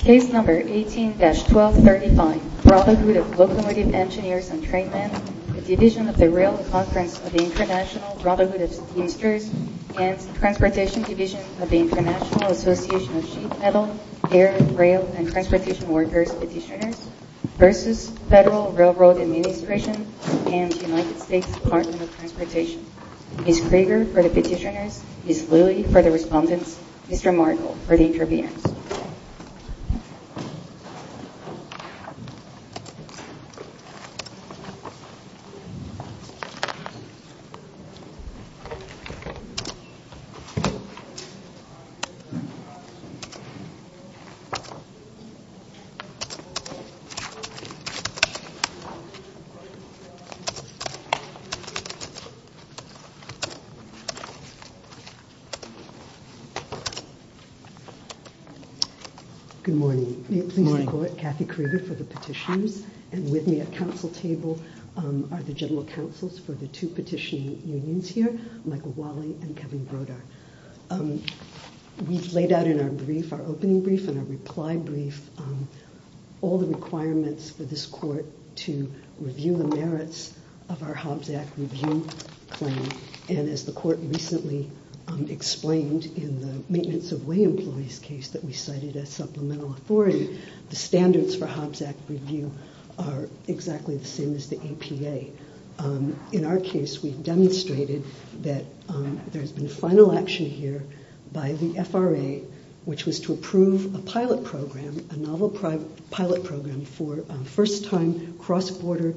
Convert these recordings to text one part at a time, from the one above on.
Case No. 18-1235, Brotherhood of Locomotive Engineers and Trainmen, a division of the Rail Conference of the International Brotherhood of Teamsters and Transportation Division of the International Association of Sheet Metal, Air, Rail and Transportation Workers v. Federal Railroad Administration and United States Department of Transportation Case No. 18-1235, Brotherhood of Locomotive Engineers and Trainmen, a division of the Rail Conference of the International Brotherhood of Teamsters and Transportation Good morning. Please record Kathy Krieger for the petitioners and with me at council table are the general counsels for the two petitioning unions here, Michael Wally and Kevin Brodar. We've laid out in our brief, our opening brief and our reply brief, all the requirements for this court to review the merits of our Hobbs Act review claim and as the court recently explained in the Maintenance of Way Employees case that we cited as supplemental authority, the standards for Hobbs Act review are exactly the same as the APA. In our case, we've demonstrated that there's been final action here by the FRA which was to approve a pilot program, a novel pilot program for first time cross-border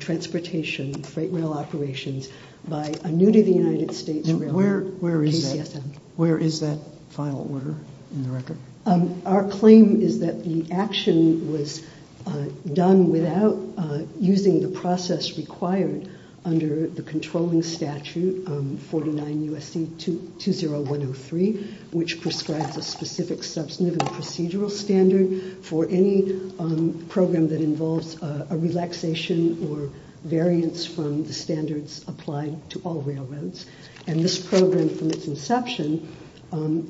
transportation freight rail operations by a new to the United States railroad, KCSM. Where is that final order in the record? Our claim is that the action was done without using the process required under the controlling statute 49 U.S.C. 20103 which prescribes a specific substantive procedural standard for any program that involves a relaxation or variance from the standards applied to all railroads. And this program from its inception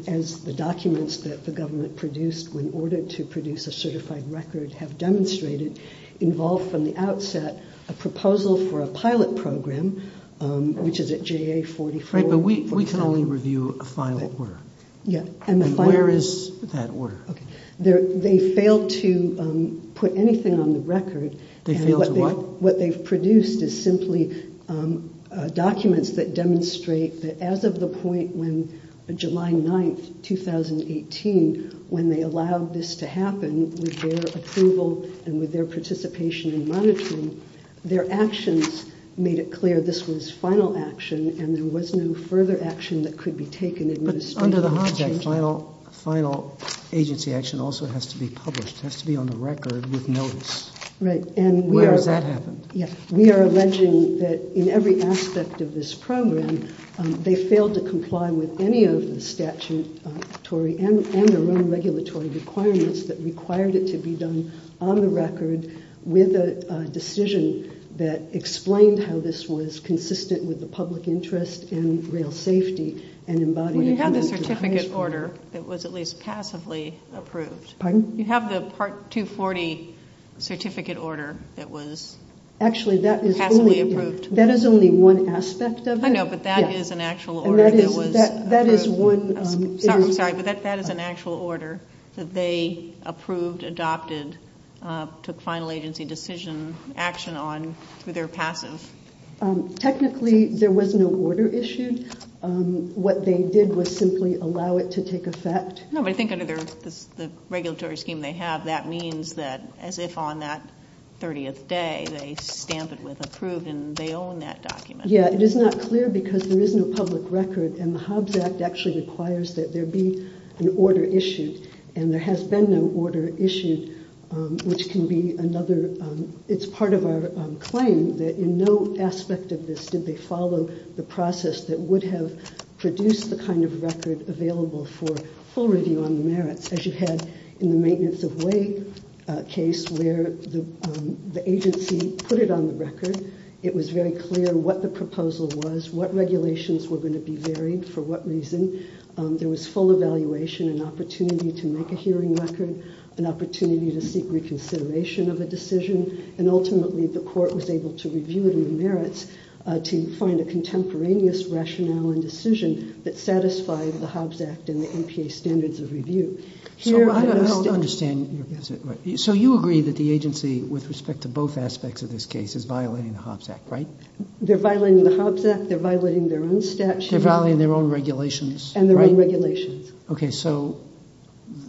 as the documents that the government produced in order to produce a certified record have demonstrated involved from the outset a proposal for a pilot program which is at JA 44. Right, but we can only review a final order. Yeah. Where is that order? They failed to put anything on the record. They failed to what? What they've produced is simply documents that demonstrate that as of the point when July 9, 2018, when they allowed this to happen with their approval and with their participation in monitoring, their actions made it clear this was final action and there was no further action that could be taken. But under the Hobbs Act, final agency action also has to be published, has to be on the record with notice. Right. Where has that happened? Yeah. We are alleging that in every aspect of this program, they failed to comply with any of the statutory and their own regulatory requirements that required it to be done on the record with a decision that explained how this was consistent with the public interest in rail safety. Well, you have the certificate order that was at least passively approved. Pardon? You have the Part 240 certificate order that was passively approved. Actually, that is only one aspect of it. I know, but that is an actual order that was approved. Sorry, but that is an actual order that they approved, adopted, took final agency decision action on through their passive. Technically, there was no order issued. What they did was simply allow it to take effect. No, but I think under the regulatory scheme they have, that means that as if on that 30th day, they stamp it with approved and they own that document. Yeah, it is not clear because there is no public record and the Hobbs Act actually requires that there be an order issued and there has been no order issued, which can be another. It is part of our claim that in no aspect of this did they follow the process that would have produced the kind of record available for full review on the merits, as you had in the maintenance of weight case where the agency put it on the record. It was very clear what the proposal was, what regulations were going to be varied, for what reason. There was full evaluation, an opportunity to make a hearing record, an opportunity to seek reconsideration of a decision, and ultimately the court was able to review the merits to find a contemporaneous rationale and decision that satisfied the Hobbs Act and the MPA standards of review. I don't understand. So you agree that the agency, with respect to both aspects of this case, is violating the Hobbs Act, right? They are violating the Hobbs Act. They are violating their own statute. They are violating their own regulations. And their own regulations. Okay, so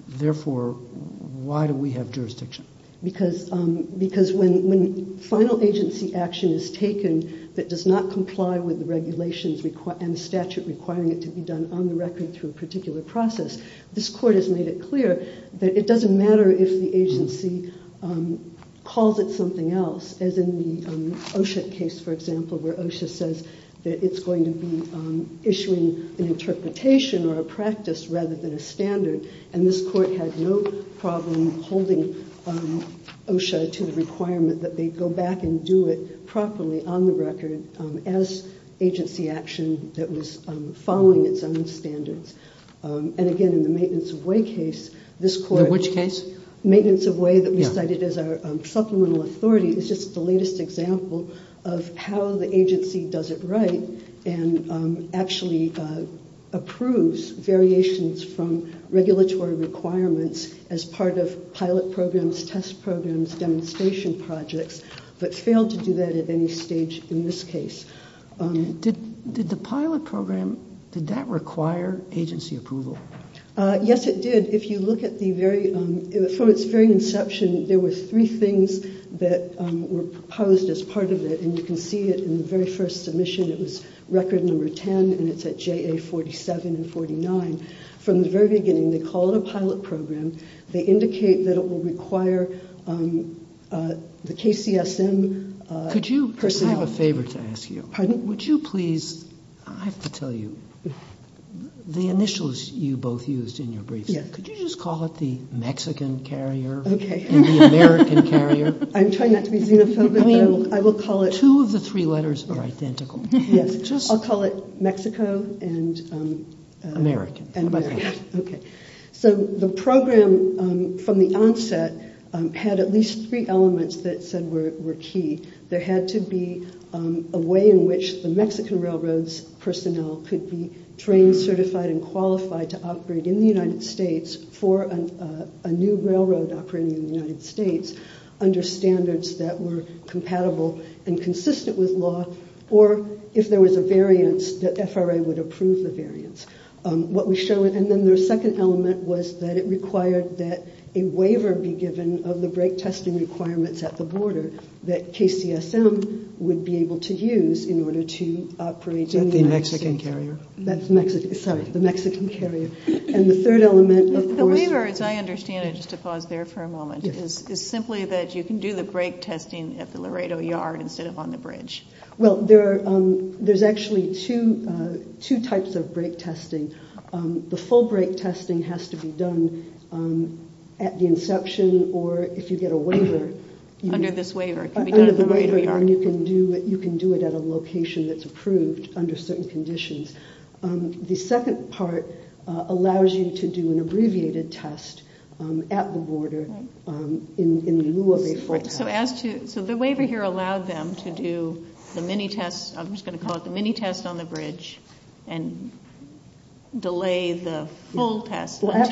therefore, why do we have jurisdiction? Because when final agency action is taken that does not comply with the regulations and statute requiring it to be done on the record through a particular process, this court has made it clear that it doesn't matter if the agency calls it something else, as in the OSHA case, for example, where OSHA says that it's going to be issuing an interpretation or a practice rather than a standard. And this court had no problem holding OSHA to the requirement that they go back and do it properly on the record as agency action that was following its own standards. And again, in the maintenance of way case, this court... In which case? Maintenance of way that we cited as our supplemental authority is just the latest example of how the agency does it right and actually approves variations from regulatory requirements as part of pilot programs, test programs, demonstration projects, but failed to do that at any stage in this case. Did the pilot program, did that require agency approval? Yes, it did. If you look at the very... From its very inception, there were three things that were proposed as part of it, and you can see it in the very first submission. It was record number 10, and it's at JA 47 and 49. From the very beginning, they call it a pilot program. They indicate that it will require the KCSM... Could you... I have a favor to ask you. Pardon? Would you please... I have to tell you, the initials you both used in your briefs, could you just call it the Mexican carrier and the American carrier? I'm trying not to be xenophobic, but I will call it... I mean, two of the three letters are identical. Yes. I'll call it Mexico and... American. American, okay. So the program from the onset had at least three elements that said were key. There had to be a way in which the Mexican Railroad's personnel could be trained, certified, and qualified to operate in the United States for a new railroad operating in the United States under standards that were compatible and consistent with law, or if there was a variance, the FRA would approve the variance. And then their second element was that it required that a waiver be given of the brake testing requirements at the border that KCSM would be able to use in order to operate in the United States. The Mexican carrier. Sorry, the Mexican carrier. And the third element, of course... The waiver, as I understand it, just to pause there for a moment, is simply that you can do the brake testing at the Laredo yard instead of on the bridge. Well, there's actually two types of brake testing. The full brake testing has to be done at the inception, or if you get a waiver... Under this waiver. Under the waiver, and you can do it at a location that's approved under certain conditions. The second part allows you to do an abbreviated test at the border in lieu of a full test. So the waiver here allowed them to do the mini test. I'm just going to call it the mini test on the bridge and delay the full test until at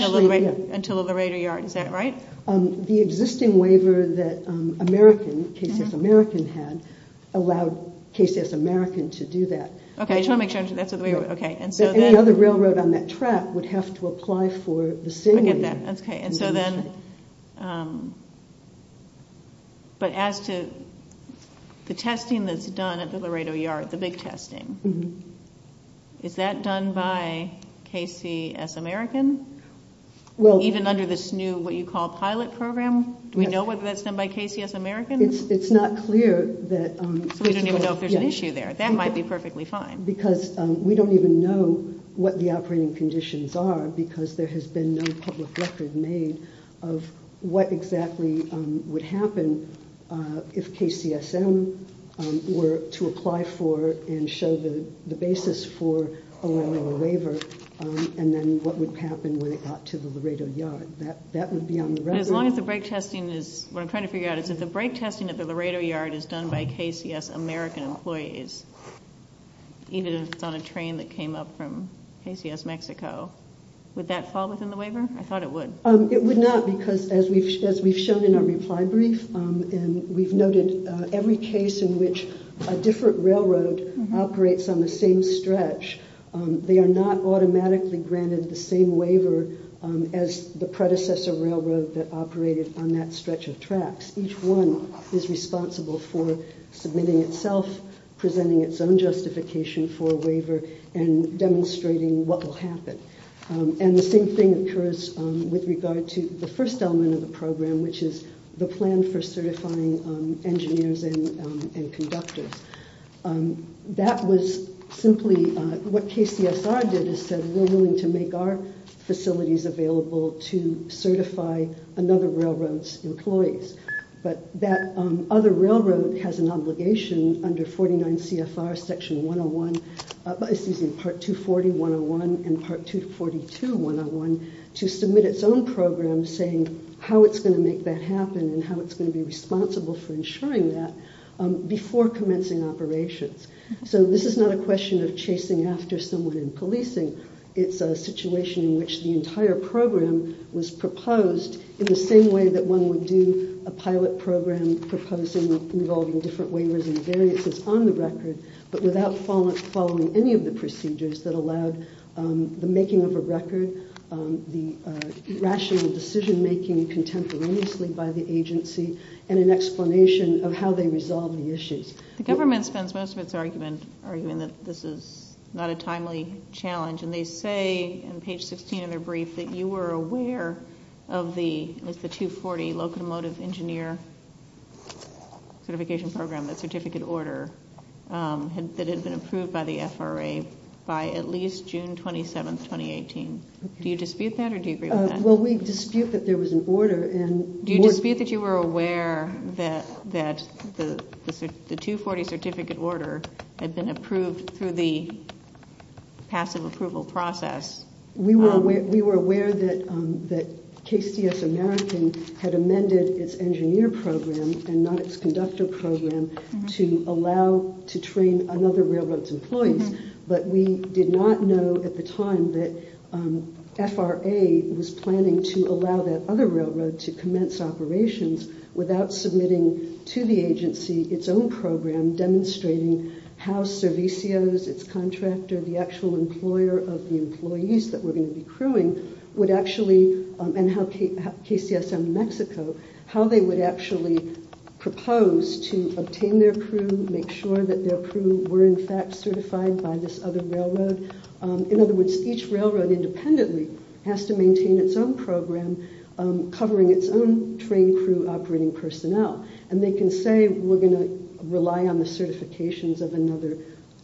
the Laredo yard. Is that right? The existing waiver that American, KCS American had, allowed KCS American to do that. Okay, I just want to make sure. Any other railroad on that track would have to apply for the same waiver. Okay, and so then, but as to the testing that's done at the Laredo yard, the big testing, is that done by KCS American? Even under this new what you call pilot program, do we know whether that's done by KCS American? It's not clear that... So we don't even know if there's an issue there. That might be perfectly fine. Because we don't even know what the operating conditions are, because there has been no public record made of what exactly would happen if KCSM were to apply for and show the basis for allowing a waiver, and then what would happen when it got to the Laredo yard. That would be on the record. But as long as the break testing is, what I'm trying to figure out is, if the break testing at the Laredo yard is done by KCS American employees, even if it's on a train that came up from KCS Mexico, would that fall within the waiver? I thought it would. It would not, because as we've shown in our reply brief, and we've noted every case in which a different railroad operates on the same stretch, they are not automatically granted the same waiver as the predecessor railroad that operated on that stretch of tracks. Each one is responsible for submitting itself, presenting its own justification for a waiver, and demonstrating what will happen. And the same thing occurs with regard to the first element of the program, which is the plan for certifying engineers and conductors. That was simply what KCSR did is said, we're willing to make our facilities available to certify another railroad's employees. But that other railroad has an obligation under 49 CFR section 101, excuse me, part 240 101 and part 242 101, to submit its own program saying how it's going to make that happen and how it's going to be responsible for ensuring that before commencing operations. So this is not a question of chasing after someone in policing. It's a situation in which the entire program was proposed in the same way that one would do a pilot program proposing involving different waivers and variances on the record, but without following any of the procedures that allowed the making of a record, the rational decision making contemporaneously by the agency, and an explanation of how they resolve the issues. The government spends most of its argument arguing that this is not a timely challenge, and they say in page 16 of their brief that you were aware of the, it was the 240 locomotive engineer certification program, that certificate order that had been approved by the FRA by at least June 27th, 2018. Do you dispute that or do you agree with that? Well, we dispute that there was an order. Do you dispute that you were aware that the 240 certificate order had been approved through the passive approval process? We were aware that KCS American had amended its engineer program and not its conductor program to allow to train another railroad's employees, but we did not know at the time that FRA was planning to allow that other railroad to commence operations without submitting to the agency its own program demonstrating how Servicios, its contractor, the actual employer of the employees that were going to be crewing, would actually, and how KCS in New Mexico, how they would actually propose to obtain their crew, make sure that their crew were in fact certified by this other railroad. In other words, each railroad independently has to maintain its own program covering its own trained crew operating personnel, and they can say we're going to rely on the certifications of another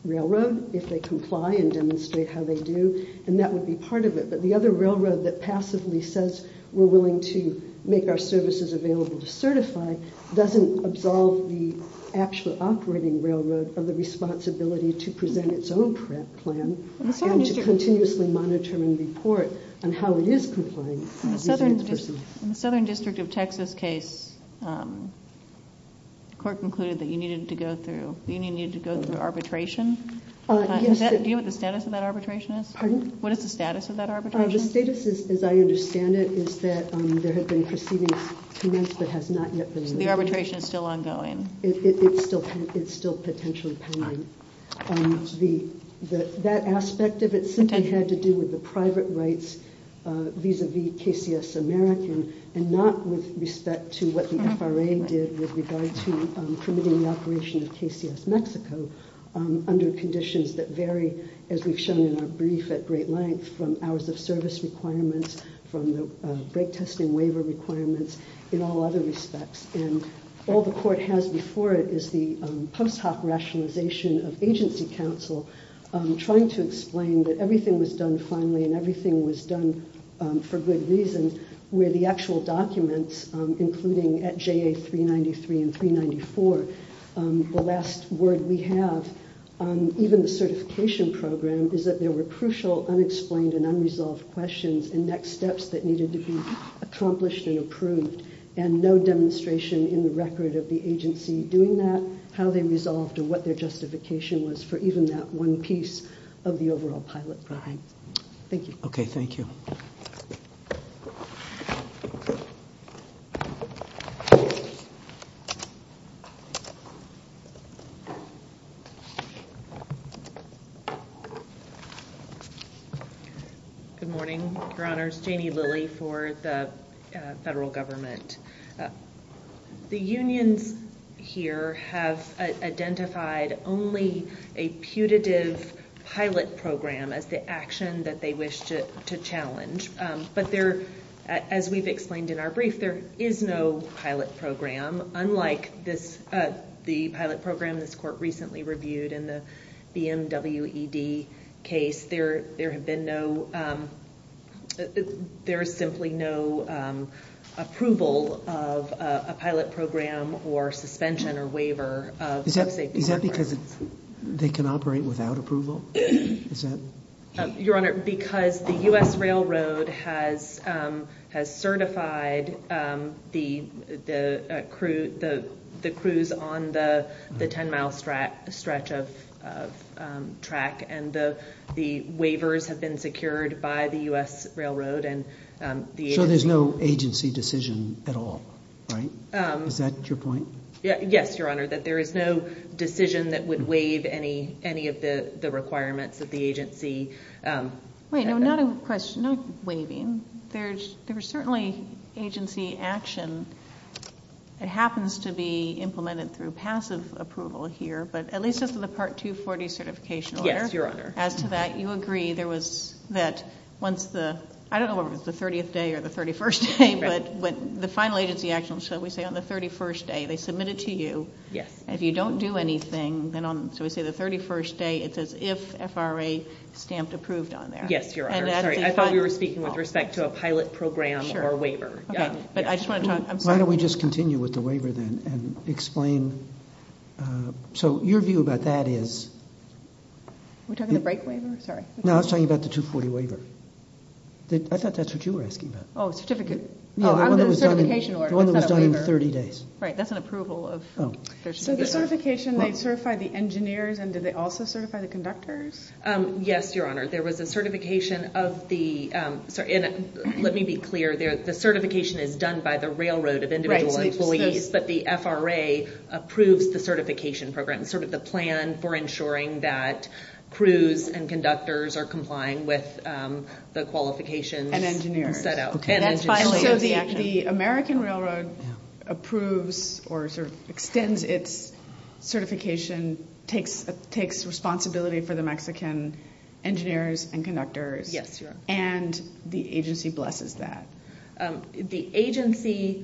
railroad if they comply and demonstrate how they do, and that would be part of it, but the other railroad that passively says we're willing to make our services available to certify doesn't absolve the actual operating railroad of the responsibility to present its own plan and to continuously monitor and report on how it is complying. In the Southern District of Texas case, the court concluded that you needed to go through arbitration. Do you know what the status of that arbitration is? Pardon? What is the status of that arbitration? The status, as I understand it, is that there had been proceedings commenced that has not yet been made. So the arbitration is still ongoing. It's still potentially pending. That aspect of it simply had to do with the private rights vis-a-vis KCS American and not with respect to what the FRA did with regard to permitting the operation of KCS Mexico under conditions that vary, as we've shown in our brief at great length, from hours of service requirements, from the brake testing waiver requirements, in all other respects. All the court has before it is the post hoc rationalization of agency counsel trying to explain that everything was done finally and everything was done for good reasons where the actual documents, including at JA 393 and 394, the last word we have, even the certification program, is that there were crucial unexplained and unresolved questions and next steps that needed to be accomplished and approved and no demonstration in the record of the agency doing that, how they resolved or what their justification was for even that one piece of the overall pilot program. Thank you. Okay. Thank you. Thank you. Good morning, Your Honors. Janie Lilly for the federal government. The unions here have identified only a putative pilot program as the action that they wish to challenge, but there, as we've explained in our brief, there is no pilot program, unlike the pilot program this court recently reviewed in the BMWED case. There have been no, there is simply no approval of a pilot program or suspension or waiver. Is that because they can operate without approval? Your Honor, because the U.S. Railroad has certified the crews on the 10-mile stretch of track and the waivers have been secured by the U.S. Railroad. So there's no agency decision at all, right? Is that your point? Yes, Your Honor, that there is no decision that would waive any of the requirements of the agency. Wait, no, not a question, not waiving. There's certainly agency action that happens to be implemented through passive approval here, but at least as to the Part 240 certification order. Yes, Your Honor. As to that, you agree there was that once the, I don't know if it was the 30th day or the 31st day, but the final agency action, shall we say, on the 31st day, they submit it to you. If you don't do anything, then on, shall we say, the 31st day, it says if FRA stamped approved on there. Yes, Your Honor. I thought we were speaking with respect to a pilot program or waiver. Okay, but I just want to talk, I'm sorry. Why don't we just continue with the waiver then and explain. So your view about that is. Are we talking about the brake waiver? No, I was talking about the 240 waiver. I thought that's what you were asking about. Oh, certificate. The one that was done in 30 days. Right, that's an approval. So the certification, they certify the engineers, and did they also certify the conductors? Yes, Your Honor. There was a certification of the, let me be clear, the certification is done by the railroad of individual employees, but the FRA approves the certification program, sort of the plan for ensuring that crews and conductors are complying with the qualifications. So the American Railroad approves or sort of extends its certification, takes responsibility for the Mexican engineers and conductors. Yes, Your Honor. And the agency blesses that. The agency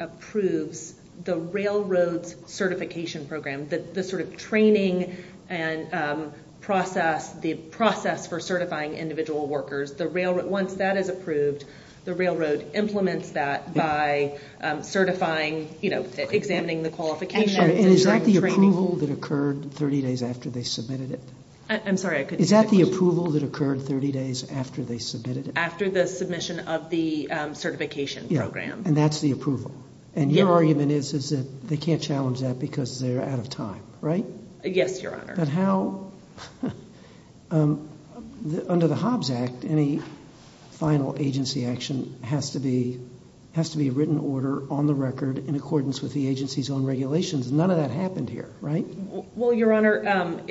approves the railroad's certification program, the sort of training and process, the process for certifying individual workers. Once that is approved, the railroad implements that by certifying, examining the qualifications. And is that the approval that occurred 30 days after they submitted it? I'm sorry, I couldn't hear the question. Is that the approval that occurred 30 days after they submitted it? And that's the approval. And your argument is that they can't challenge that because they're out of time, right? Yes, Your Honor. But how, under the Hobbs Act, any final agency action has to be a written order on the record in accordance with the agency's own regulations. None of that happened here, right? Well, Your Honor, that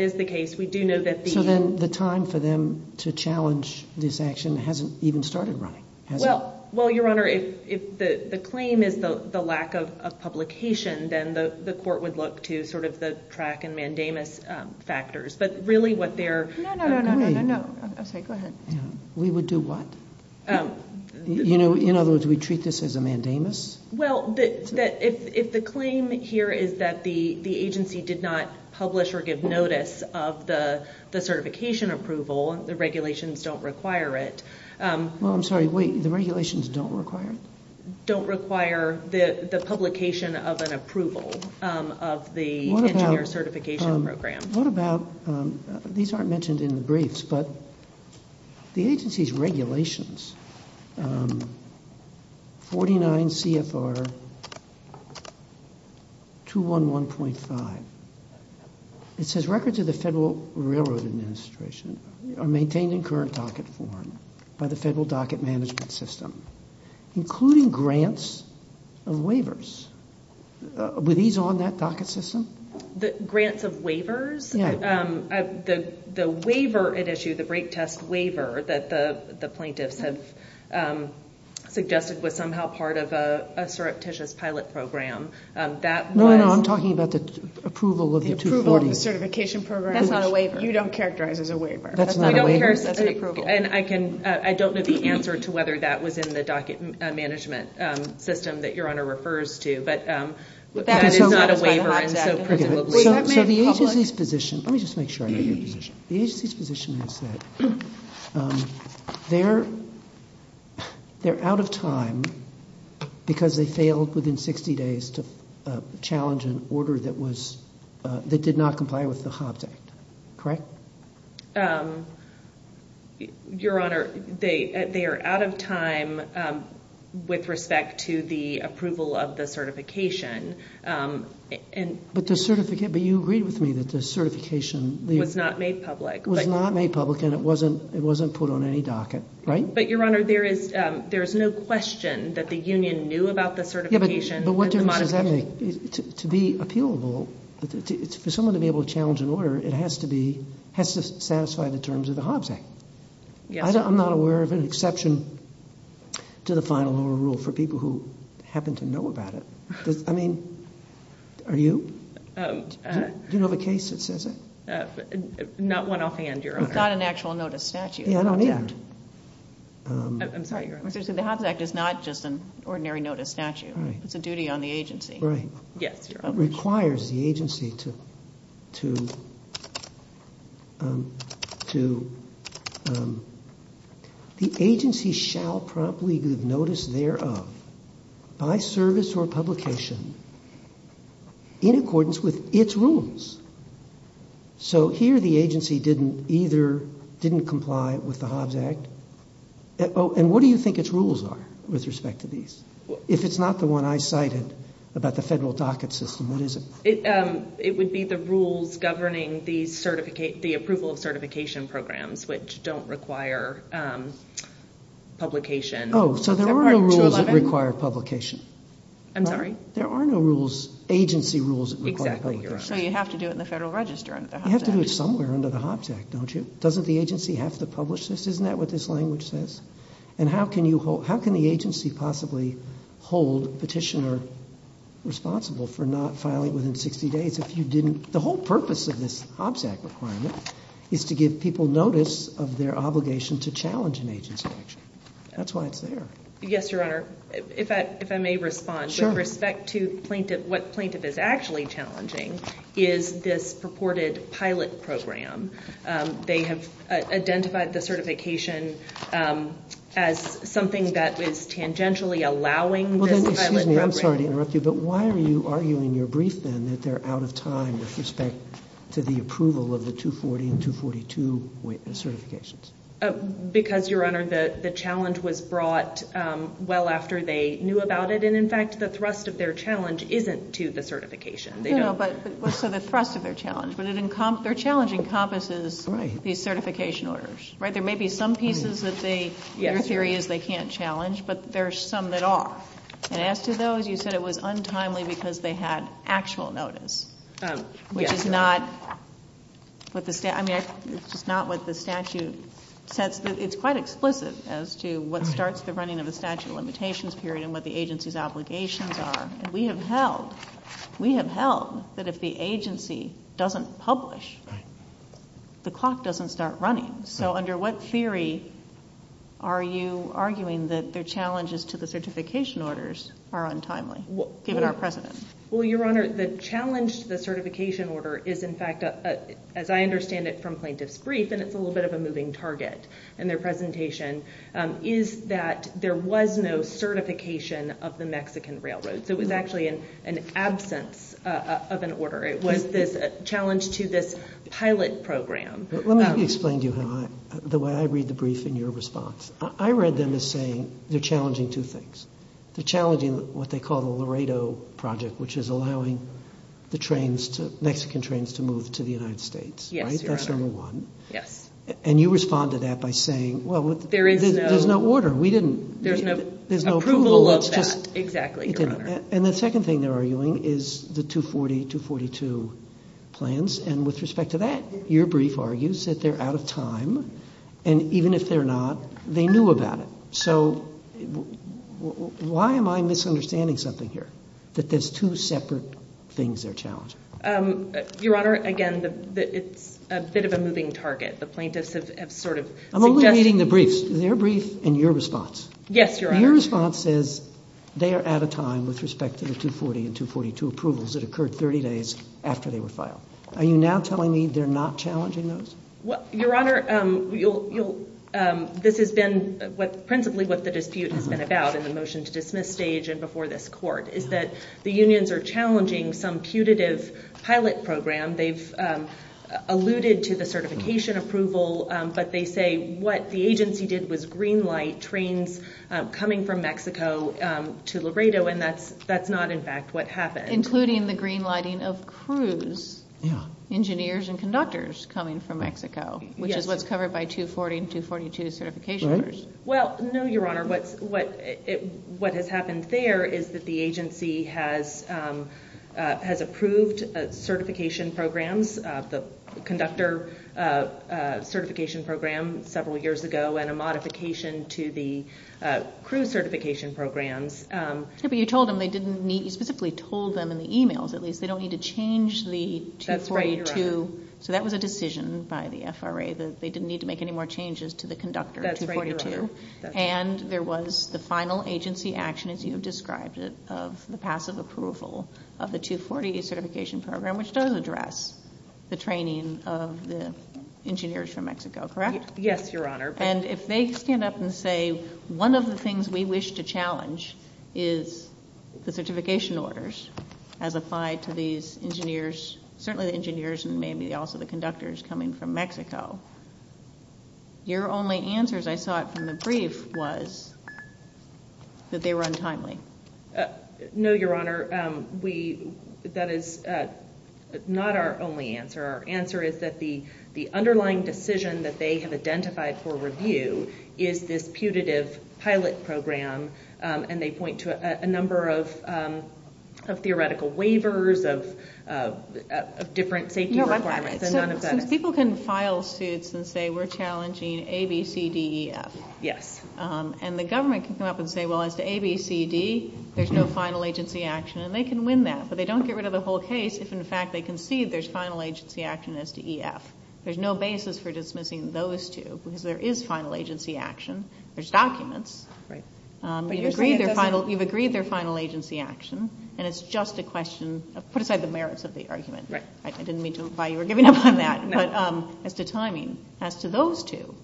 is the case. We do know that the— So then the time for them to challenge this action hasn't even started running, has it? Well, Your Honor, if the claim is the lack of publication, then the court would look to sort of the track and mandamus factors. But really what they're— No, no, no, no, no, no, no. I'm sorry, go ahead. We would do what? In other words, we treat this as a mandamus? Well, if the claim here is that the agency did not publish or give notice of the certification approval, the regulations don't require it— Well, I'm sorry, wait. The regulations don't require it? Don't require the publication of an approval of the engineer certification program. What about—these aren't mentioned in the briefs, but the agency's regulations, 49 CFR 211.5, it says records of the Federal Railroad Administration are maintained in current docket form by the Federal Docket Management System, including grants of waivers. Were these on that docket system? Grants of waivers? Yeah. The waiver at issue, the brake test waiver that the plaintiffs have suggested was somehow part of a surreptitious pilot program, that was— No, no, I'm talking about the approval of the 240. The approval of the certification program. That's not a waiver. You don't characterize as a waiver. That's not a waiver. That's an approval. And I don't know the answer to whether that was in the docket management system that Your Honor refers to, but that is not a waiver, and so— So the agency's position—let me just make sure I know your position. The agency's position is that they're out of time because they failed within 60 days to challenge an order that did not comply with the Hobbs Act. Correct? Your Honor, they are out of time with respect to the approval of the certification. But you agreed with me that the certification— Was not made public. Was not made public, and it wasn't put on any docket, right? But Your Honor, there is no question that the union knew about the certification. Yeah, but what difference does that make? To be appealable, for someone to be able to challenge an order, it has to satisfy the terms of the Hobbs Act. I'm not aware of an exception to the final rule for people who happen to know about it. I mean, are you? Do you know of a case that says that? Not one offhand, Your Honor. It's not an actual notice statute. Yeah, I don't either. I'm sorry, Your Honor. The Hobbs Act is not just an ordinary notice statute. It's a duty on the agency. Right. Yes, Your Honor. It requires the agency to— The agency shall promptly give notice thereof by service or publication in accordance with its rules. So here the agency didn't either—didn't comply with the Hobbs Act. And what do you think its rules are with respect to these? If it's not the one I cited about the federal docket system, what is it? It would be the rules governing the approval of certification programs, which don't require publication. Oh, so there are no rules that require publication. I'm sorry? There are no rules, agency rules, that require publication. Exactly, Your Honor. So you have to do it in the Federal Register under the Hobbs Act. You have to do it somewhere under the Hobbs Act, don't you? Doesn't the agency have to publish this? Isn't that what this language says? And how can you hold—how can the agency possibly hold petitioner responsible for not filing within 60 days if you didn't— the whole purpose of this Hobbs Act requirement is to give people notice of their obligation to challenge an agency action. That's why it's there. Yes, Your Honor. If I may respond. Sure. With respect to plaintiff—what plaintiff is actually challenging is this purported pilot program. They have identified the certification as something that is tangentially allowing this pilot program— Well, then, excuse me. I'm sorry to interrupt you, but why are you arguing in your brief, then, that they're out of time with respect to the approval of the 240 and 242 certifications? Because, Your Honor, the challenge was brought well after they knew about it, and, in fact, the thrust of their challenge isn't to the certification. So the thrust of their challenge, but their challenge encompasses these certification orders, right? There may be some pieces that they—your theory is they can't challenge, but there are some that are. And as to those, you said it was untimely because they had actual notice, which is not what the statute says. It's quite explicit as to what starts the running of the statute of limitations period and what the agency's obligations are. And we have held—we have held that if the agency doesn't publish, the clock doesn't start running. So under what theory are you arguing that their challenges to the certification orders are untimely, given our precedent? Well, Your Honor, the challenge to the certification order is, in fact, as I understand it from plaintiff's brief, and it's a little bit of a moving target in their presentation, is that there was no certification of the Mexican Railroad. So it was actually an absence of an order. It was this challenge to this pilot program. Let me explain to you how I—the way I read the brief in your response. I read them as saying they're challenging two things. They're challenging what they call the Laredo Project, which is allowing the trains to—Mexican trains to move to the United States, right? Yes, Your Honor. That's number one. Yes. And you respond to that by saying, well, there's no order. We didn't— There's no approval of that. Exactly, Your Honor. And the second thing they're arguing is the 240-242 plans, and with respect to that, your brief argues that they're out of time, and even if they're not, they knew about it. So why am I misunderstanding something here, that there's two separate things they're challenging? Your Honor, again, it's a bit of a moving target. The plaintiffs have sort of suggested— I'm only reading the briefs, their brief and your response. Yes, Your Honor. And your response is they are out of time with respect to the 240 and 242 approvals that occurred 30 days after they were filed. Are you now telling me they're not challenging those? Your Honor, this has been principally what the dispute has been about in the motion to dismiss stage and before this court, is that the unions are challenging some putative pilot program. They've alluded to the certification approval, but they say what the agency did was green-light trains coming from Mexico to Laredo, and that's not, in fact, what happened. Including the green-lighting of crews, engineers and conductors coming from Mexico, which is what's covered by 240 and 242 certification. Well, no, Your Honor. What has happened there is that the agency has approved certification programs, the conductor certification program several years ago and a modification to the crew certification programs. But you told them they didn't need—you specifically told them in the emails, at least, they don't need to change the 242. That's right, Your Honor. So that was a decision by the FRA that they didn't need to make any more changes to the conductor 242. That's right, Your Honor. And there was the final agency action, as you have described it, of the passive approval of the 240 certification program, which does address the training of the engineers from Mexico, correct? Yes, Your Honor. And if they stand up and say one of the things we wish to challenge is the certification orders as applied to these engineers, certainly the engineers and maybe also the conductors coming from Mexico, your only answer, as I saw it from the brief, was that they were untimely. No, Your Honor. That is not our only answer. Our answer is that the underlying decision that they have identified for review is this putative pilot program, and they point to a number of theoretical waivers of different safety requirements, and none of that is— So people can file suits and say we're challenging A, B, C, D, E, F. Yes. And the government can come up and say, well, as to A, B, C, D, there's no final agency action, and they can win that, but they don't get rid of the whole case if, in fact, they concede there's final agency action as to E, F. There's no basis for dismissing those two because there is final agency action. There's documents. Right. But you're saying it doesn't— You've agreed their final agency action, and it's just a question of put aside the merits of the argument. Right. I didn't mean to imply you were giving up on that. No. But as to timing, as to those two,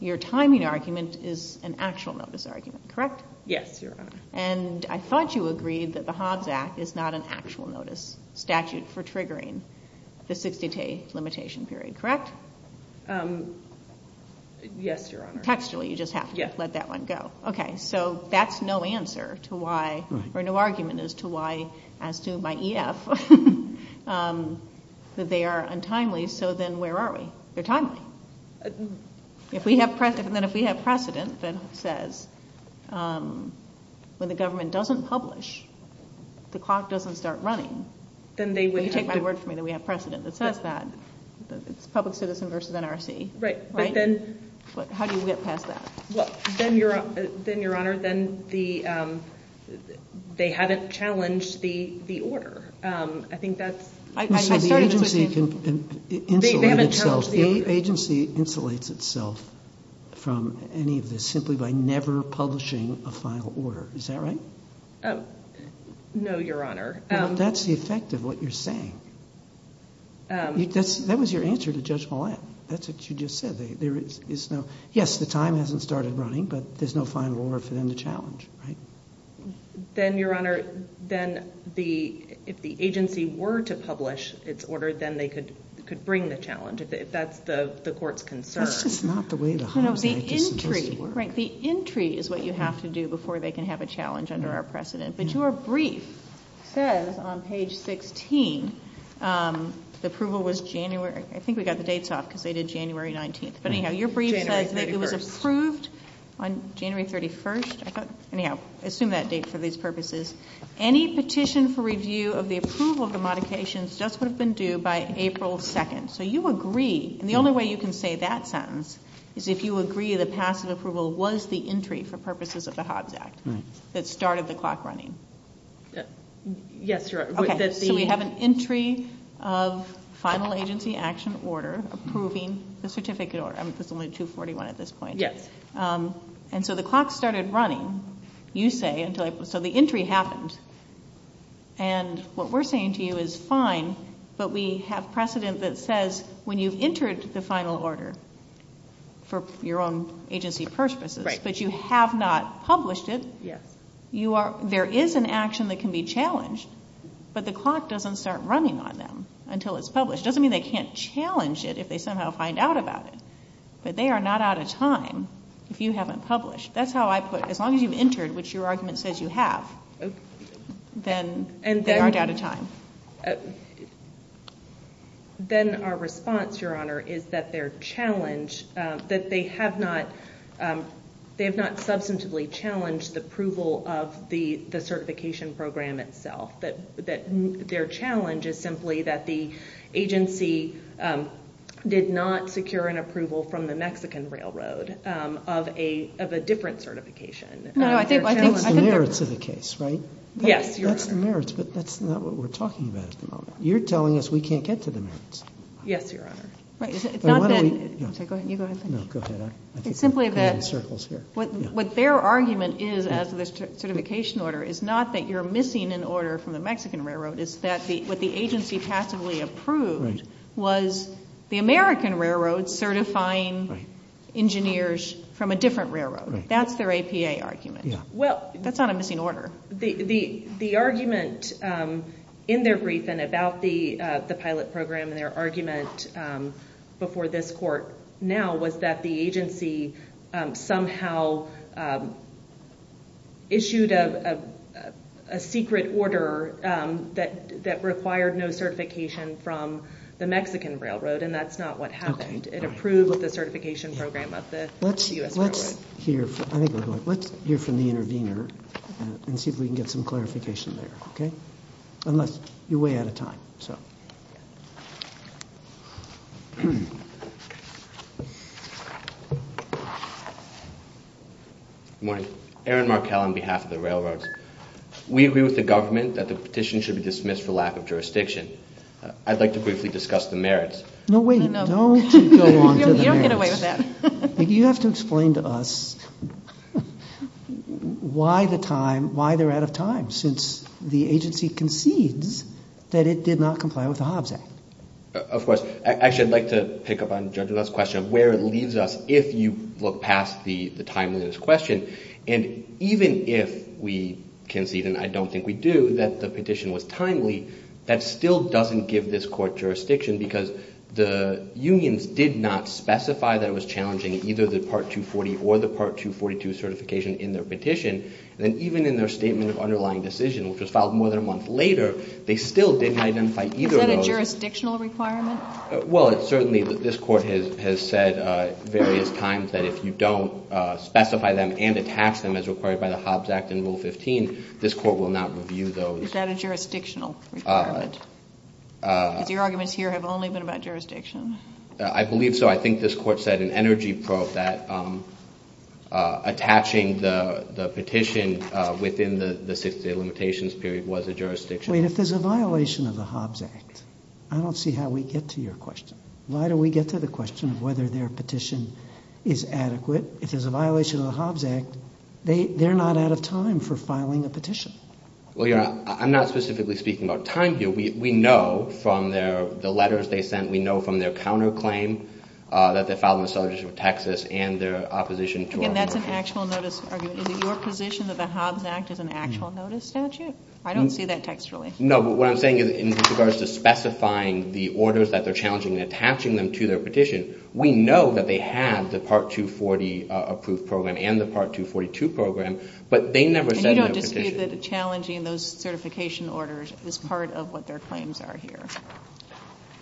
your timing argument is an actual notice argument, correct? Yes, Your Honor. And I thought you agreed that the Hobbs Act is not an actual notice statute for triggering the 60-day limitation period, correct? Yes, Your Honor. Textually, you just have to let that one go. Yes. Okay. So that's no answer to why—or no argument as to why, as to my E, F, that they are untimely. So then where are we? They're timely. And then if we have precedent that says when the government doesn't publish, the clock doesn't start running, then you take my word for it that we have precedent that says that. It's public citizen versus NRC. Right. But then— How do you get past that? Well, then, Your Honor, then they haven't challenged the order. I think that's— So the agency can insulate itself. They haven't challenged the order. The agency insulates itself from any of this simply by never publishing a final order. Is that right? No, Your Honor. That's the effect of what you're saying. That was your answer to Judge Millett. That's what you just said. There is no—yes, the time hasn't started running, but there's no final order for them to challenge. Right? Then, Your Honor, then the—if the agency were to publish its order, then they could bring the challenge, if that's the court's concern. That's just not the way the homicide case is supposed to work. Right. The entry is what you have to do before they can have a challenge under our precedent. But your brief says on page 16, the approval was January—I think we got the dates off because they did January 19th. But, anyhow, your brief says that it was approved on January 31st. I thought—anyhow, assume that date for these purposes. Any petition for review of the approval of the modifications just would have been due by April 2nd. So you agree—and the only way you can say that sentence is if you agree the passive approval was the entry for purposes of the Hobbs Act that started the clock running. Yes, Your Honor. Okay. So we have an entry of final agency action order approving the certificate order. I mean, it's only 241 at this point. Yes. And so the clock started running, you say, until—so the entry happened. And what we're saying to you is fine, but we have precedent that says when you've entered the final order for your own agency purposes, but you have not published it. Yes. There is an action that can be challenged, but the clock doesn't start running on them until it's published. It doesn't mean they can't challenge it if they somehow find out about it. But they are not out of time if you haven't published. That's how I put it. As long as you've entered, which your argument says you have, then they aren't out of time. Then our response, Your Honor, is that their challenge—that they have not substantively challenged the approval of the certification program itself. That their challenge is simply that the agency did not secure an approval from the Mexican Railroad of a different certification. No, I think— That's the merits of the case, right? Yes, Your Honor. That's the merits, but that's not what we're talking about at the moment. You're telling us we can't get to the merits. Yes, Your Honor. Right. It's not that— Go ahead. No, go ahead. It's simply that— I'm in circles here. What their argument is as to the certification order is not that you're missing an order from the Mexican Railroad. It's that what the agency passively approved was the American Railroad certifying engineers from a different railroad. That's their APA argument. That's not a missing order. The argument in their briefing about the pilot program and their argument before this court now was that the agency somehow issued a secret order that required no certification from the Mexican Railroad, and that's not what happened. It approved the certification program of the U.S. Railroad. Let's hear from the intervener and see if we can get some clarification there, unless you're way out of time. Good morning. Aaron Markell on behalf of the Railroads. We agree with the government that the petition should be dismissed for lack of jurisdiction. I'd like to briefly discuss the merits. No, wait. Don't go on to the merits. You don't get away with that. You have to explain to us why they're out of time, since the agency concedes that it did not comply with the Hobbs Act. Of course. Actually, I'd like to pick up on Judge Lutz's question of where it leaves us if you look past the timeliness question. And even if we concede, and I don't think we do, that the petition was timely, that still doesn't give this court jurisdiction, because the unions did not specify that it was challenging either the Part 240 or the Part 242 certification in their petition. And even in their statement of underlying decision, which was filed more than a month later, they still didn't identify either of those. Is that a jurisdictional requirement? Well, certainly this court has said various times that if you don't specify them and attach them as required by the Hobbs Act and Rule 15, this court will not review those. Is that a jurisdictional requirement? Because your arguments here have only been about jurisdiction. I believe so. I think this court said in energy probe that attaching the petition within the 60-day limitations period was a jurisdiction. Wait, if there's a violation of the Hobbs Act, I don't see how we get to your question. Why don't we get to the question of whether their petition is adequate? If there's a violation of the Hobbs Act, they're not out of time for filing a petition. Well, your Honor, I'm not specifically speaking about time here. We know from the letters they sent, we know from their counterclaim that they filed in the Southern District of Texas and their opposition to our petition. Again, that's an actual notice argument. Is it your position that the Hobbs Act is an actual notice statute? I don't see that textually. No, but what I'm saying is in regards to specifying the orders that they're challenging and attaching them to their petition, we know that they had the Part 240 approved program and the Part 242 program, but they never said in their petition. So you believe that challenging those certification orders is part of what their claims are here?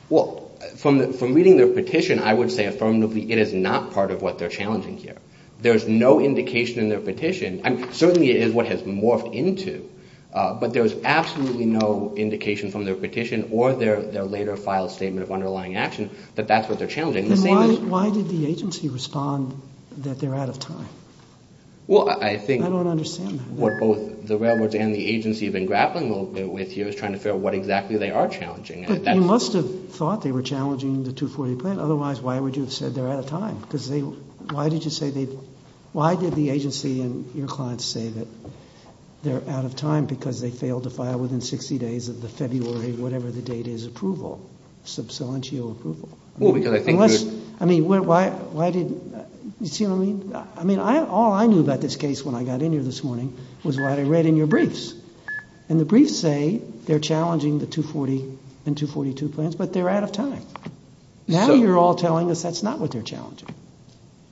Well, from reading their petition, I would say affirmatively it is not part of what they're challenging here. There's no indication in their petition, and certainly it is what has morphed into, but there's absolutely no indication from their petition or their later filed statement of underlying action that that's what they're challenging. Then why did the agency respond that they're out of time? Well, I think... I don't understand that. What both the railroads and the agency have been grappling a little bit with here is trying to figure out what exactly they are challenging. But you must have thought they were challenging the 240 plan. Otherwise, why would you have said they're out of time? Because they... Why did you say they... Why did the agency and your clients say that they're out of time because they failed to file within 60 days of the February, whatever the date is, approval, sub salientio approval? Well, because I think... Unless... I mean, why did... You see what I mean? I mean, all I knew about this case when I got in here this morning was what I read in your briefs. And the briefs say they're challenging the 240 and 242 plans, but they're out of time. Now you're all telling us that's not what they're challenging.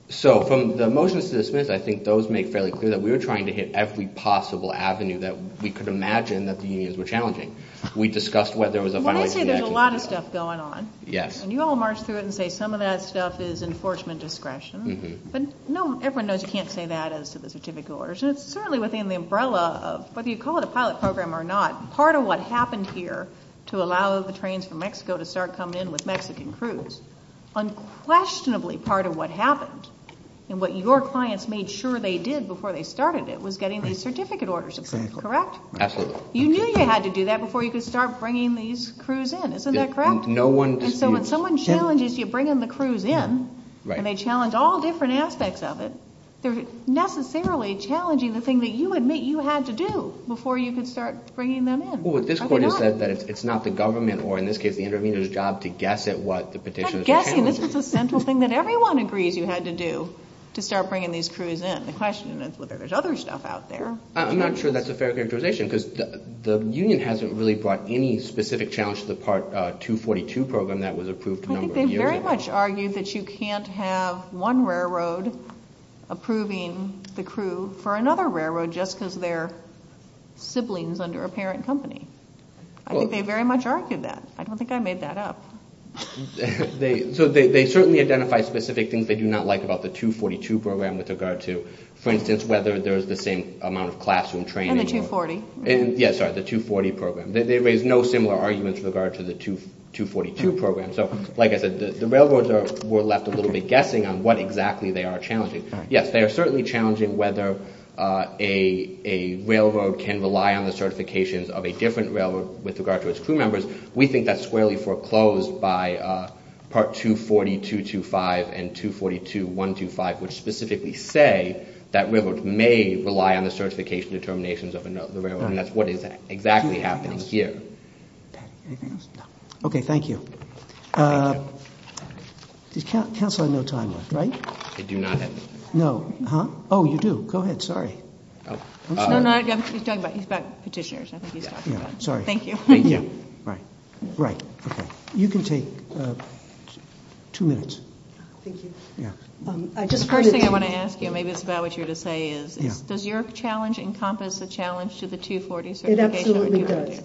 So from the motions to dismiss, I think those make fairly clear that we were trying to hit every possible avenue that we could imagine that the unions were challenging. We discussed whether there was a final... Well, they say there's a lot of stuff going on. Yes. And you all march through it and say some of that stuff is enforcement discretion. But no, everyone knows you can't say that as to the certificate orders. And it's certainly within the umbrella of whether you call it a pilot program or not, part of what happened here to allow the trains from Mexico to start coming in with Mexican crews, unquestionably part of what happened and what your clients made sure they did before they started it was getting these certificate orders approved. Correct? Absolutely. You knew you had to do that before you could start bringing these crews in. Isn't that correct? No one disputes. So when someone challenges you bringing the crews in and they challenge all different aspects of it, they're necessarily challenging the thing that you admit you had to do before you could start bringing them in. Well, what this court has said is that it's not the government or, in this case, the intervener's job to guess at what the petitioners were challenging. Not guessing. This is a central thing that everyone agrees you had to do to start bringing these crews in. The question is whether there's other stuff out there. I'm not sure that's a fair characterization because the union hasn't really brought any specific challenge to the Part 242 program that was approved a number of years ago. I think they very much argued that you can't have one railroad approving the crew for another railroad just because they're siblings under a parent company. I think they very much argued that. I don't think I made that up. So they certainly identify specific things they do not like about the 242 program with regard to, for instance, whether there's the same amount of classroom training. And the 240. Yeah, sorry, the 240 program. They raised no similar arguments with regard to the 242 program. So, like I said, the railroads were left a little bit guessing on what exactly they are challenging. Yes, they are certainly challenging whether a railroad can rely on the certifications of a different railroad with regard to its crew members. We think that's squarely foreclosed by Part 242.25 and 242.125, which specifically say that railroads may rely on the certification determinations of another railroad. And that's what is exactly happening here. Anything else? Okay, thank you. Council had no time left, right? I do not have any. No. Oh, you do. Go ahead. Sorry. No, no, he's talking about petitioners. I think he's talking about them. Sorry. Thank you. Yeah, right. Right, okay. You can take two minutes. Thank you. Yeah. The first thing I want to ask you, maybe it's about what you were going to say, is does your challenge encompass a challenge to the 240 certification? It absolutely does.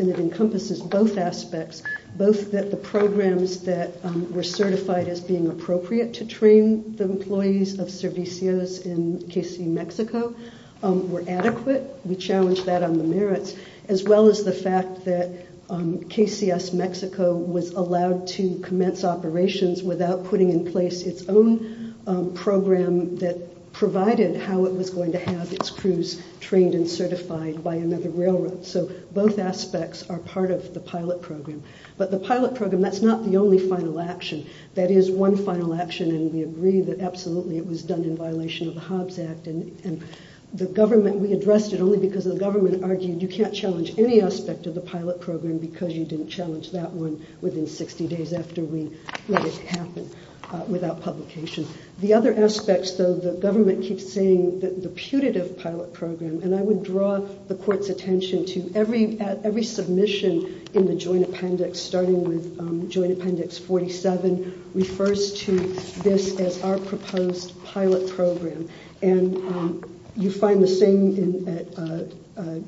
It encompasses both aspects, both that the programs that were certified as being appropriate to train the employees of Servicios in Mexico were adequate. We challenge that on the merits, as well as the fact that KCS Mexico was allowed to commence operations without putting in place its own program that provided how it was going to have its crews trained and certified by another railroad. So both aspects are part of the pilot program. But the pilot program, that's not the only final action. That is one final action, and we agree that absolutely it was done in violation of the Hobbs Act. And the government, we addressed it only because the government argued you can't challenge any aspect of the pilot program because you didn't challenge that one within 60 days after we let it happen without publication. The other aspects, though, the government keeps saying that the putative pilot program, and I would draw the court's attention to every submission in the Joint Appendix, starting with Joint Appendix 47, refers to this as our proposed pilot program. And you find the same at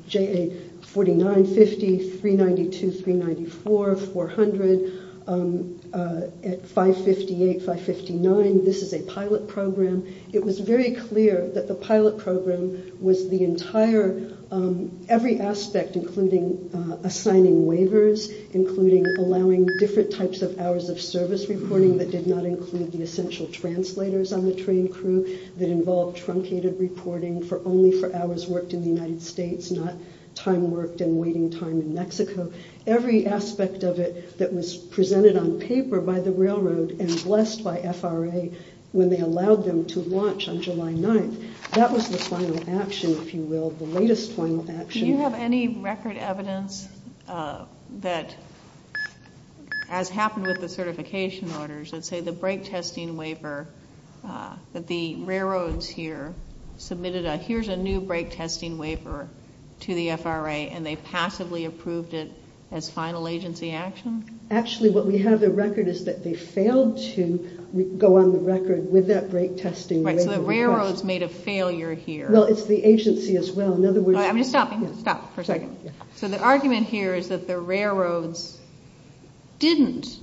JA4950, 392, 394, 400, at 558, 559, this is a pilot program. It was very clear that the pilot program was the entire, every aspect, including assigning waivers, including allowing different types of hours of service reporting that did not include the essential translators on the train crew, that involved truncated reporting for only for hours worked in the United States, not time worked and waiting time in Mexico. Every aspect of it that was presented on paper by the railroad and blessed by FRA when they allowed them to launch on July 9th, that was the final action, if you will, the latest final action. Do you have any record evidence that, as happened with the certification orders, that say the brake testing waiver, that the railroads here submitted a here's a new brake testing waiver to the FRA and they passively approved it as final agency action? Actually, what we have the record is that they failed to go on the record with that brake testing waiver. Right, so the railroads made a failure here. Well, it's the agency as well. I'm just stopping. Stop for a second. So the argument here is that the railroads didn't.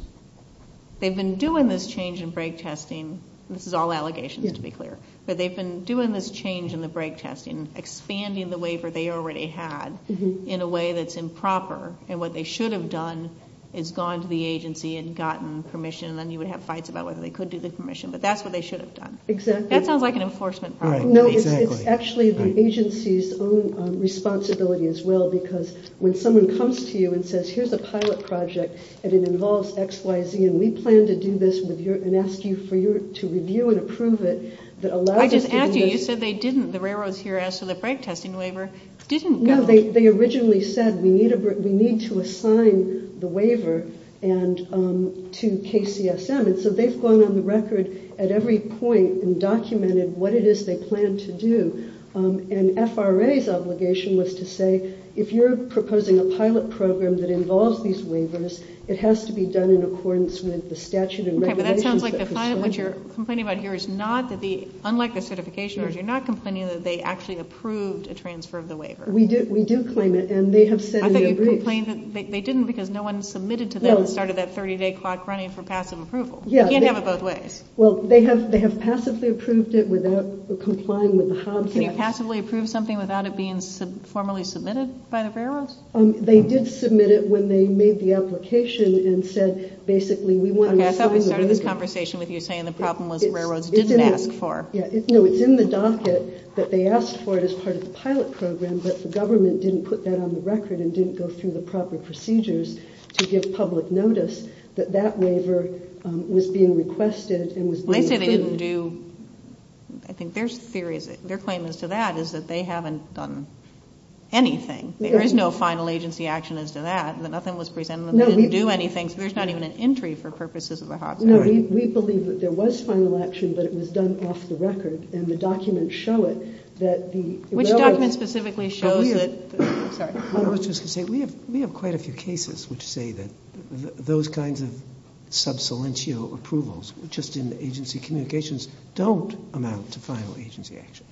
They've been doing this change in brake testing. This is all allegations, to be clear, but they've been doing this change in the brake testing, expanding the waiver they already had in a way that's improper. And what they should have done is gone to the agency and gotten permission. And then you would have fights about whether they could do the permission. But that's what they should have done. Exactly. That sounds like an enforcement. No, it's actually the agency's own responsibility as well. Because when someone comes to you and says, here's a pilot project and it involves X, Y, Z, and we plan to do this and ask you to review and approve it that allows us to do this. I just asked you. You said they didn't. The railroads here asked for the brake testing waiver. Didn't go. No, they originally said we need to assign the waiver to KCSM. So they've gone on the record at every point and documented what it is they plan to do. And FRA's obligation was to say if you're proposing a pilot program that involves these waivers, it has to be done in accordance with the statute and regulations. Okay, but that sounds like what you're complaining about here is not that the, unlike the certification, you're not complaining that they actually approved a transfer of the waiver. We do claim it. And they have said in their briefs. They didn't because no one submitted to them and started that 30-day clock running for passive approval. You can't have it both ways. Well, they have passively approved it without complying with the Hobbs Act. Can you passively approve something without it being formally submitted by the railroads? They did submit it when they made the application and said basically we want to assign the waiver. Okay, I thought we started this conversation with you saying the problem was railroads didn't ask for. Yeah, no, it's in the docket that they asked for it as part of the pilot program, but the government didn't put that on the record and didn't go through the proper procedures to give public notice that that waiver was being requested and was being approved. Well, they say they didn't do, I think their claim is to that is that they haven't done anything. There is no final agency action as to that, that nothing was presented and they didn't do anything. So there's not even an entry for purposes of the Hobbs Act. No, we believe that there was final action, but it was done off the record, and the documents show it. Which document specifically shows it? I was just going to say, we have quite a few cases which say that those kinds of sub salientio approvals, just in the agency communications, don't amount to final agency action.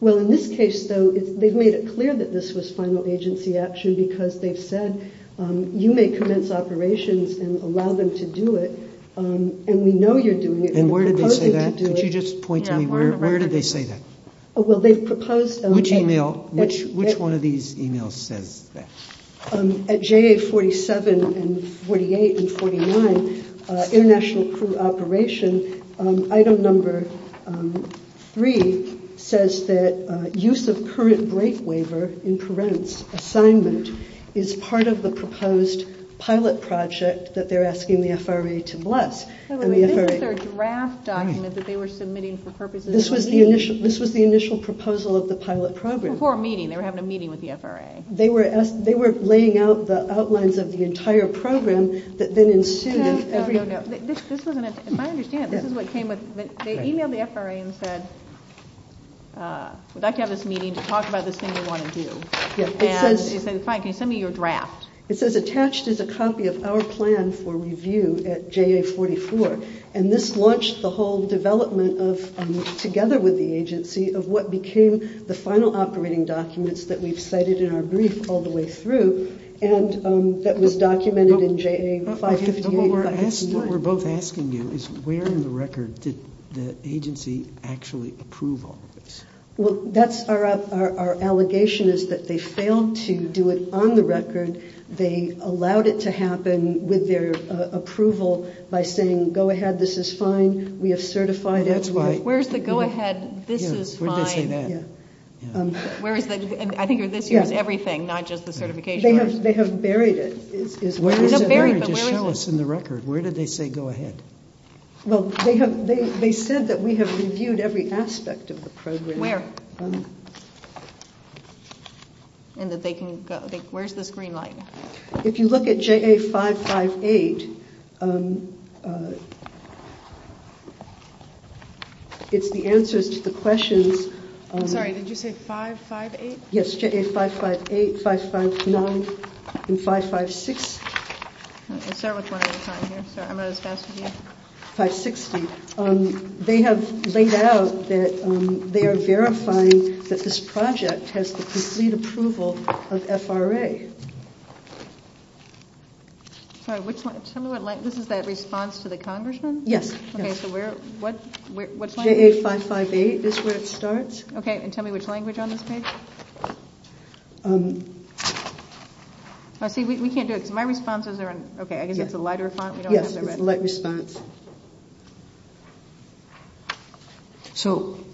Well, in this case, though, they've made it clear that this was final agency action because they've said you may commence operations and allow them to do it, and we know you're doing it. And where did they say that? Could you just point to me where did they say that? Well, they've proposed. Which email, which one of these emails says that? At JA 47 and 48 and 49, international crew operation, item number three says that use of current break waiver in parents' assignment is part of the proposed pilot project that they're asking the FRA to bless. This is their draft document that they were submitting for purposes of the meeting. This was the initial proposal of the pilot program. Before a meeting, they were having a meeting with the FRA. They were laying out the outlines of the entire program that then ensued. If I understand it, this is what came with. They emailed the FRA and said, would like to have this meeting to talk about this thing you want to do. And they said, fine, can you send me your draft? It says, attached is a copy of our plan for review at JA 44. And this launched the whole development of, together with the agency, of what became the final operating documents that we've cited in our brief all the way through and that was documented in JA 558. What we're both asking you is where in the record did the agency actually approve all of this? Well, that's our allegation is that they failed to do it on the record. They allowed it to happen with their approval by saying, go ahead, this is fine. We have certified it. Where's the go ahead, this is fine? Where'd they say that? I think this here is everything, not just the certification. They have buried it. Where is it? Just show us in the record. Where did they say go ahead? Well, they said that we have reviewed every aspect of the program. Where? Where's this green light? If you look at JA 558, it's the answers to the questions. I'm sorry, did you say 558? Yes, JA 558, 559, and 556. Let's start with one at a time here. Sorry, I'm not as fast as you. 560. They have laid out that they are verifying that this project has the complete approval of FRA. Sorry, which one? Tell me what this is. This is that response to the congressman? Yes. Okay, so what's the language? JA 558 is where it starts. Okay, and tell me which language on this page? See, we can't do it, because my responses are in, okay, I guess it's a lighter font. Yes, it's a light response. And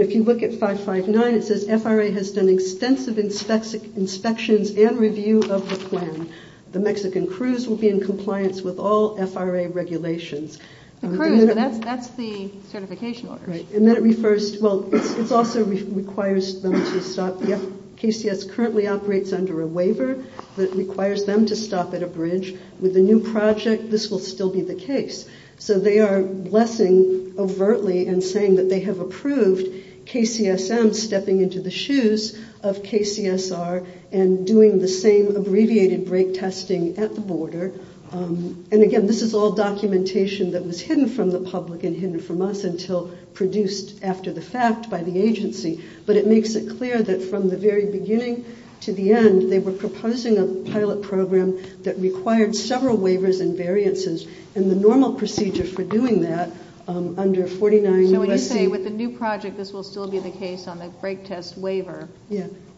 if you look at 559, it says, FRA has done extensive inspections and review of the plan. The Mexican cruise will be in compliance with all FRA regulations. The cruise, but that's the certification order. Right, and then it refers, well, it also requires them to stop, KCS currently operates under a waiver, but it requires them to stop all FRA regulations. It requires them to stop at a bridge. With the new project, this will still be the case. So they are blessing overtly and saying that they have approved KCSM stepping into the shoes of KCSR and doing the same abbreviated break testing at the border. And again, this is all documentation that was hidden from the public and hidden from us until produced after the fact by the agency. But it makes it clear that from the very beginning to the end, they were proposing a pilot program that required several waivers and variances, and the normal procedure for doing that under 49 U.S.C. So when you say with the new project, this will still be the case on the break test waiver,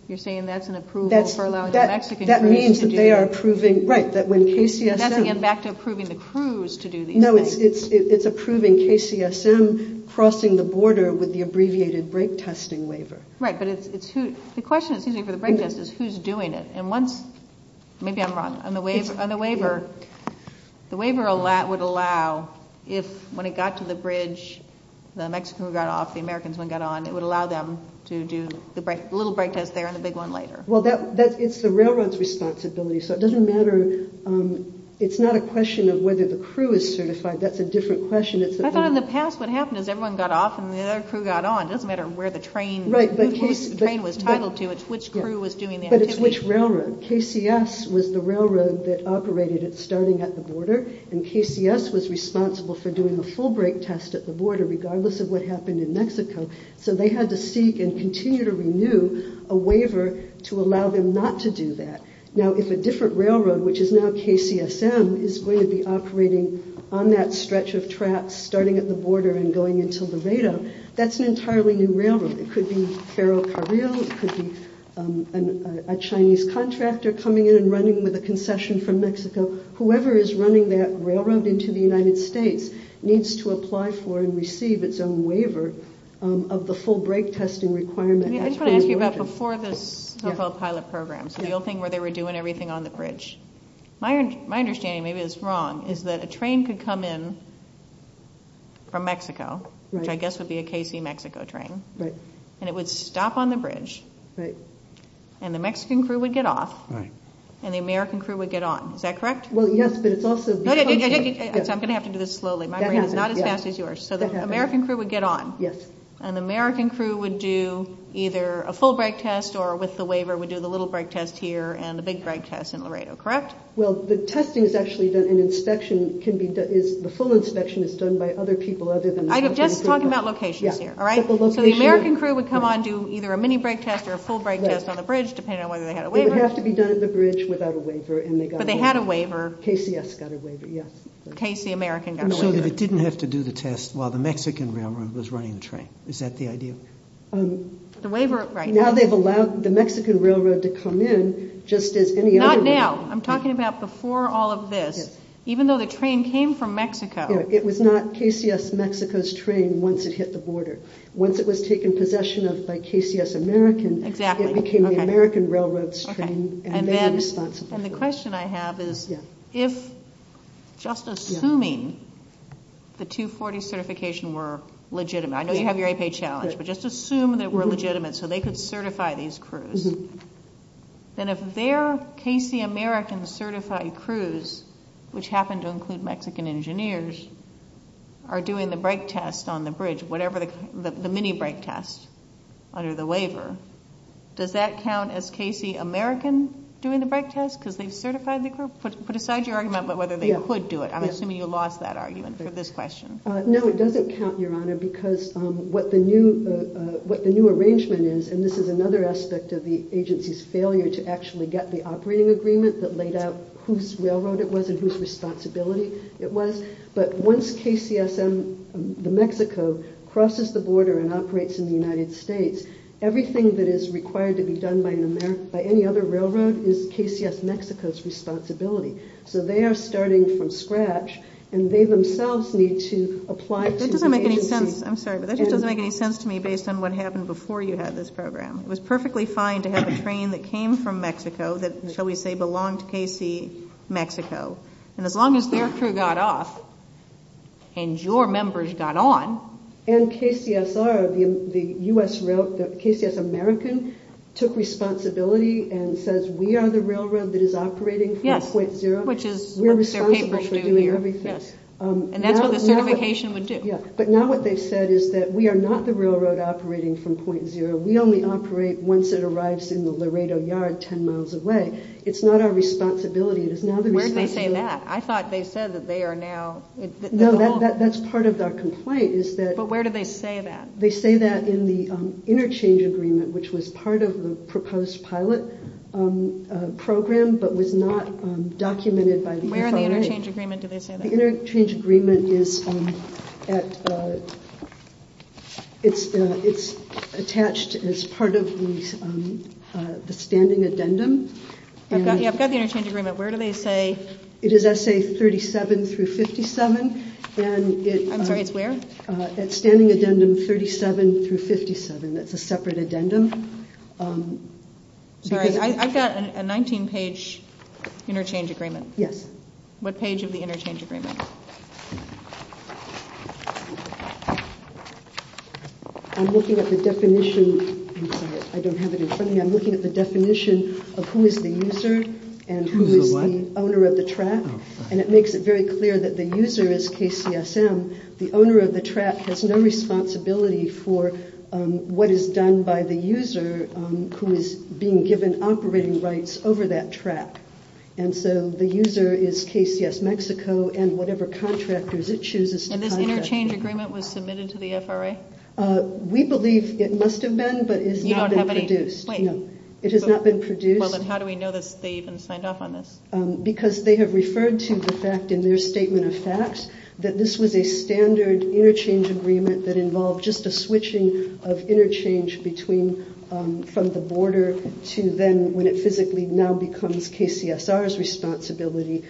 you're saying that's an approval for allowing the Mexican cruise to do it? That means that they are approving, right, that when KCSM. That's again back to approving the cruise to do these things. No, it's approving KCSM crossing the border with the abbreviated break testing waiver. Right, but the question, excuse me, for the break test is who's doing it? And once, maybe I'm wrong, on the waiver, the waiver would allow if when it got to the bridge, the Mexican got off, the Americans got on, it would allow them to do the little break test there and the big one later. Well, it's the railroad's responsibility, so it doesn't matter. It's not a question of whether the crew is certified. That's a different question. I thought in the past what happened is everyone got off and the other crew got on. It doesn't matter where the train was titled to. It's which crew was doing the activity. But it's which railroad. KCS was the railroad that operated it starting at the border, and KCS was responsible for doing the full break test at the border, regardless of what happened in Mexico. So they had to seek and continue to renew a waiver to allow them not to do that. Now, if a different railroad, which is now KCSM, is going to be operating on that stretch of tracks starting at the border and going into Laredo, that's an entirely new railroad. It could be Ferro Carrillo. It could be a Chinese contractor coming in and running with a concession from Mexico. Whoever is running that railroad into the United States needs to apply for and receive its own waiver of the full break testing requirement. I just want to ask you about before the so-called pilot programs, the old thing where they were doing everything on the bridge. My understanding, maybe it's wrong, is that a train could come in from Mexico, which I guess would be a KC-Mexico train, and it would stop on the bridge, and the Mexican crew would get off, and the American crew would get on. Is that correct? Well, yes, but it's also— I'm going to have to do this slowly. My brain is not as fast as yours. So the American crew would get on, and the American crew would do either a full break test or with the waiver would do the little break test here and the big break test in Laredo, correct? Well, the testing is actually done in inspection. The full inspection is done by other people other than— I'm just talking about locations here, all right? So the American crew would come on, do either a mini break test or a full break test on the bridge, depending on whether they had a waiver. It would have to be done at the bridge without a waiver, and they got a waiver. But they had a waiver. KCS got a waiver, yes. KC-American got a waiver. So it didn't have to do the test while the Mexican railroad was running the train. Is that the idea? The waiver— Now they've allowed the Mexican railroad to come in just as any other— Not now. I'm talking about before all of this. Even though the train came from Mexico— It was not KCS-Mexico's train once it hit the border. Once it was taken possession of by KCS-American, it became the American railroad's train and they were responsible for it. And the question I have is if just assuming the 240 certification were legitimate— I know you have your APA challenge, but just assume they were legitimate so they could certify these crews. Then if they're KC-American certified crews, which happen to include Mexican engineers, are doing the brake test on the bridge, the mini-brake test under the waiver, does that count as KC-American doing the brake test because they've certified the crew? Put aside your argument about whether they could do it. I'm assuming you lost that argument for this question. No, it doesn't count, Your Honor, because what the new arrangement is— and this is another aspect of the agency's failure to actually get the operating agreement that laid out whose railroad it was and whose responsibility it was— but once KCS-Mexico crosses the border and operates in the United States, everything that is required to be done by any other railroad is KCS-Mexico's responsibility. So they are starting from scratch and they themselves need to apply to the agency— It was perfectly fine to have a train that came from Mexico that, shall we say, belonged to KC-Mexico, and as long as their crew got off and your members got on— And KCS-R, the U.S. railroad, the KCS-American took responsibility and says we are the railroad that is operating from point zero. Yes, which is what their papers do here. We're responsible for doing everything. And that's what the certification would do. Yeah, but now what they've said is that we are not the railroad operating from point zero. We only operate once it arrives in the Laredo Yard 10 miles away. It's not our responsibility. Where did they say that? I thought they said that they are now— No, that's part of their complaint is that— But where do they say that? They say that in the interchange agreement, which was part of the proposed pilot program but was not documented by the FRA. Where in the interchange agreement do they say that? The interchange agreement is attached as part of the standing addendum. Yeah, I've got the interchange agreement. Where do they say— It is essay 37 through 57. I'm sorry, it's where? At standing addendum 37 through 57. That's a separate addendum. Sorry, I've got a 19-page interchange agreement. Yes. What page of the interchange agreement? I'm looking at the definition. I'm sorry, I don't have it in front of me. I'm looking at the definition of who is the user and who is the owner of the track. And it makes it very clear that the user is KCSM. The owner of the track has no responsibility for what is done by the user who is being given operating rights over that track. And so the user is KCSM and whatever contractors it chooses to contract— And this interchange agreement was submitted to the FRA? We believe it must have been, but it has not been produced. You don't have any—wait. It has not been produced. Well, then how do we know that they even signed off on this? Because they have referred to the fact in their statement of facts that this was a standard interchange agreement that involved just a switching of interchange from the border to then when it physically now becomes KCSR's responsibility.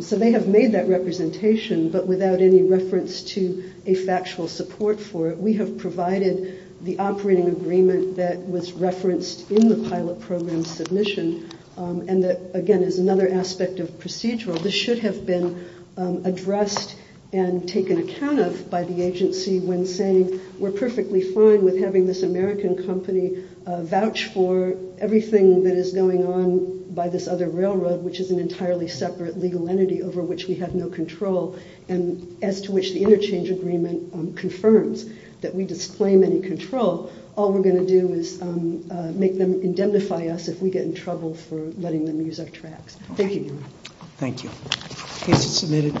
So they have made that representation, but without any reference to a factual support for it. We have provided the operating agreement that was referenced in the pilot program submission and that, again, is another aspect of procedural. This should have been addressed and taken account of by the agency when saying we're perfectly fine with having this American company vouch for everything that is going on by this other railroad, which is an entirely separate legal entity over which we have no control. And as to which the interchange agreement confirms that we disclaim any control, all we're going to do is make them indemnify us if we get in trouble for letting them use our tracks. Thank you. Thank you. Case is submitted. Thank you.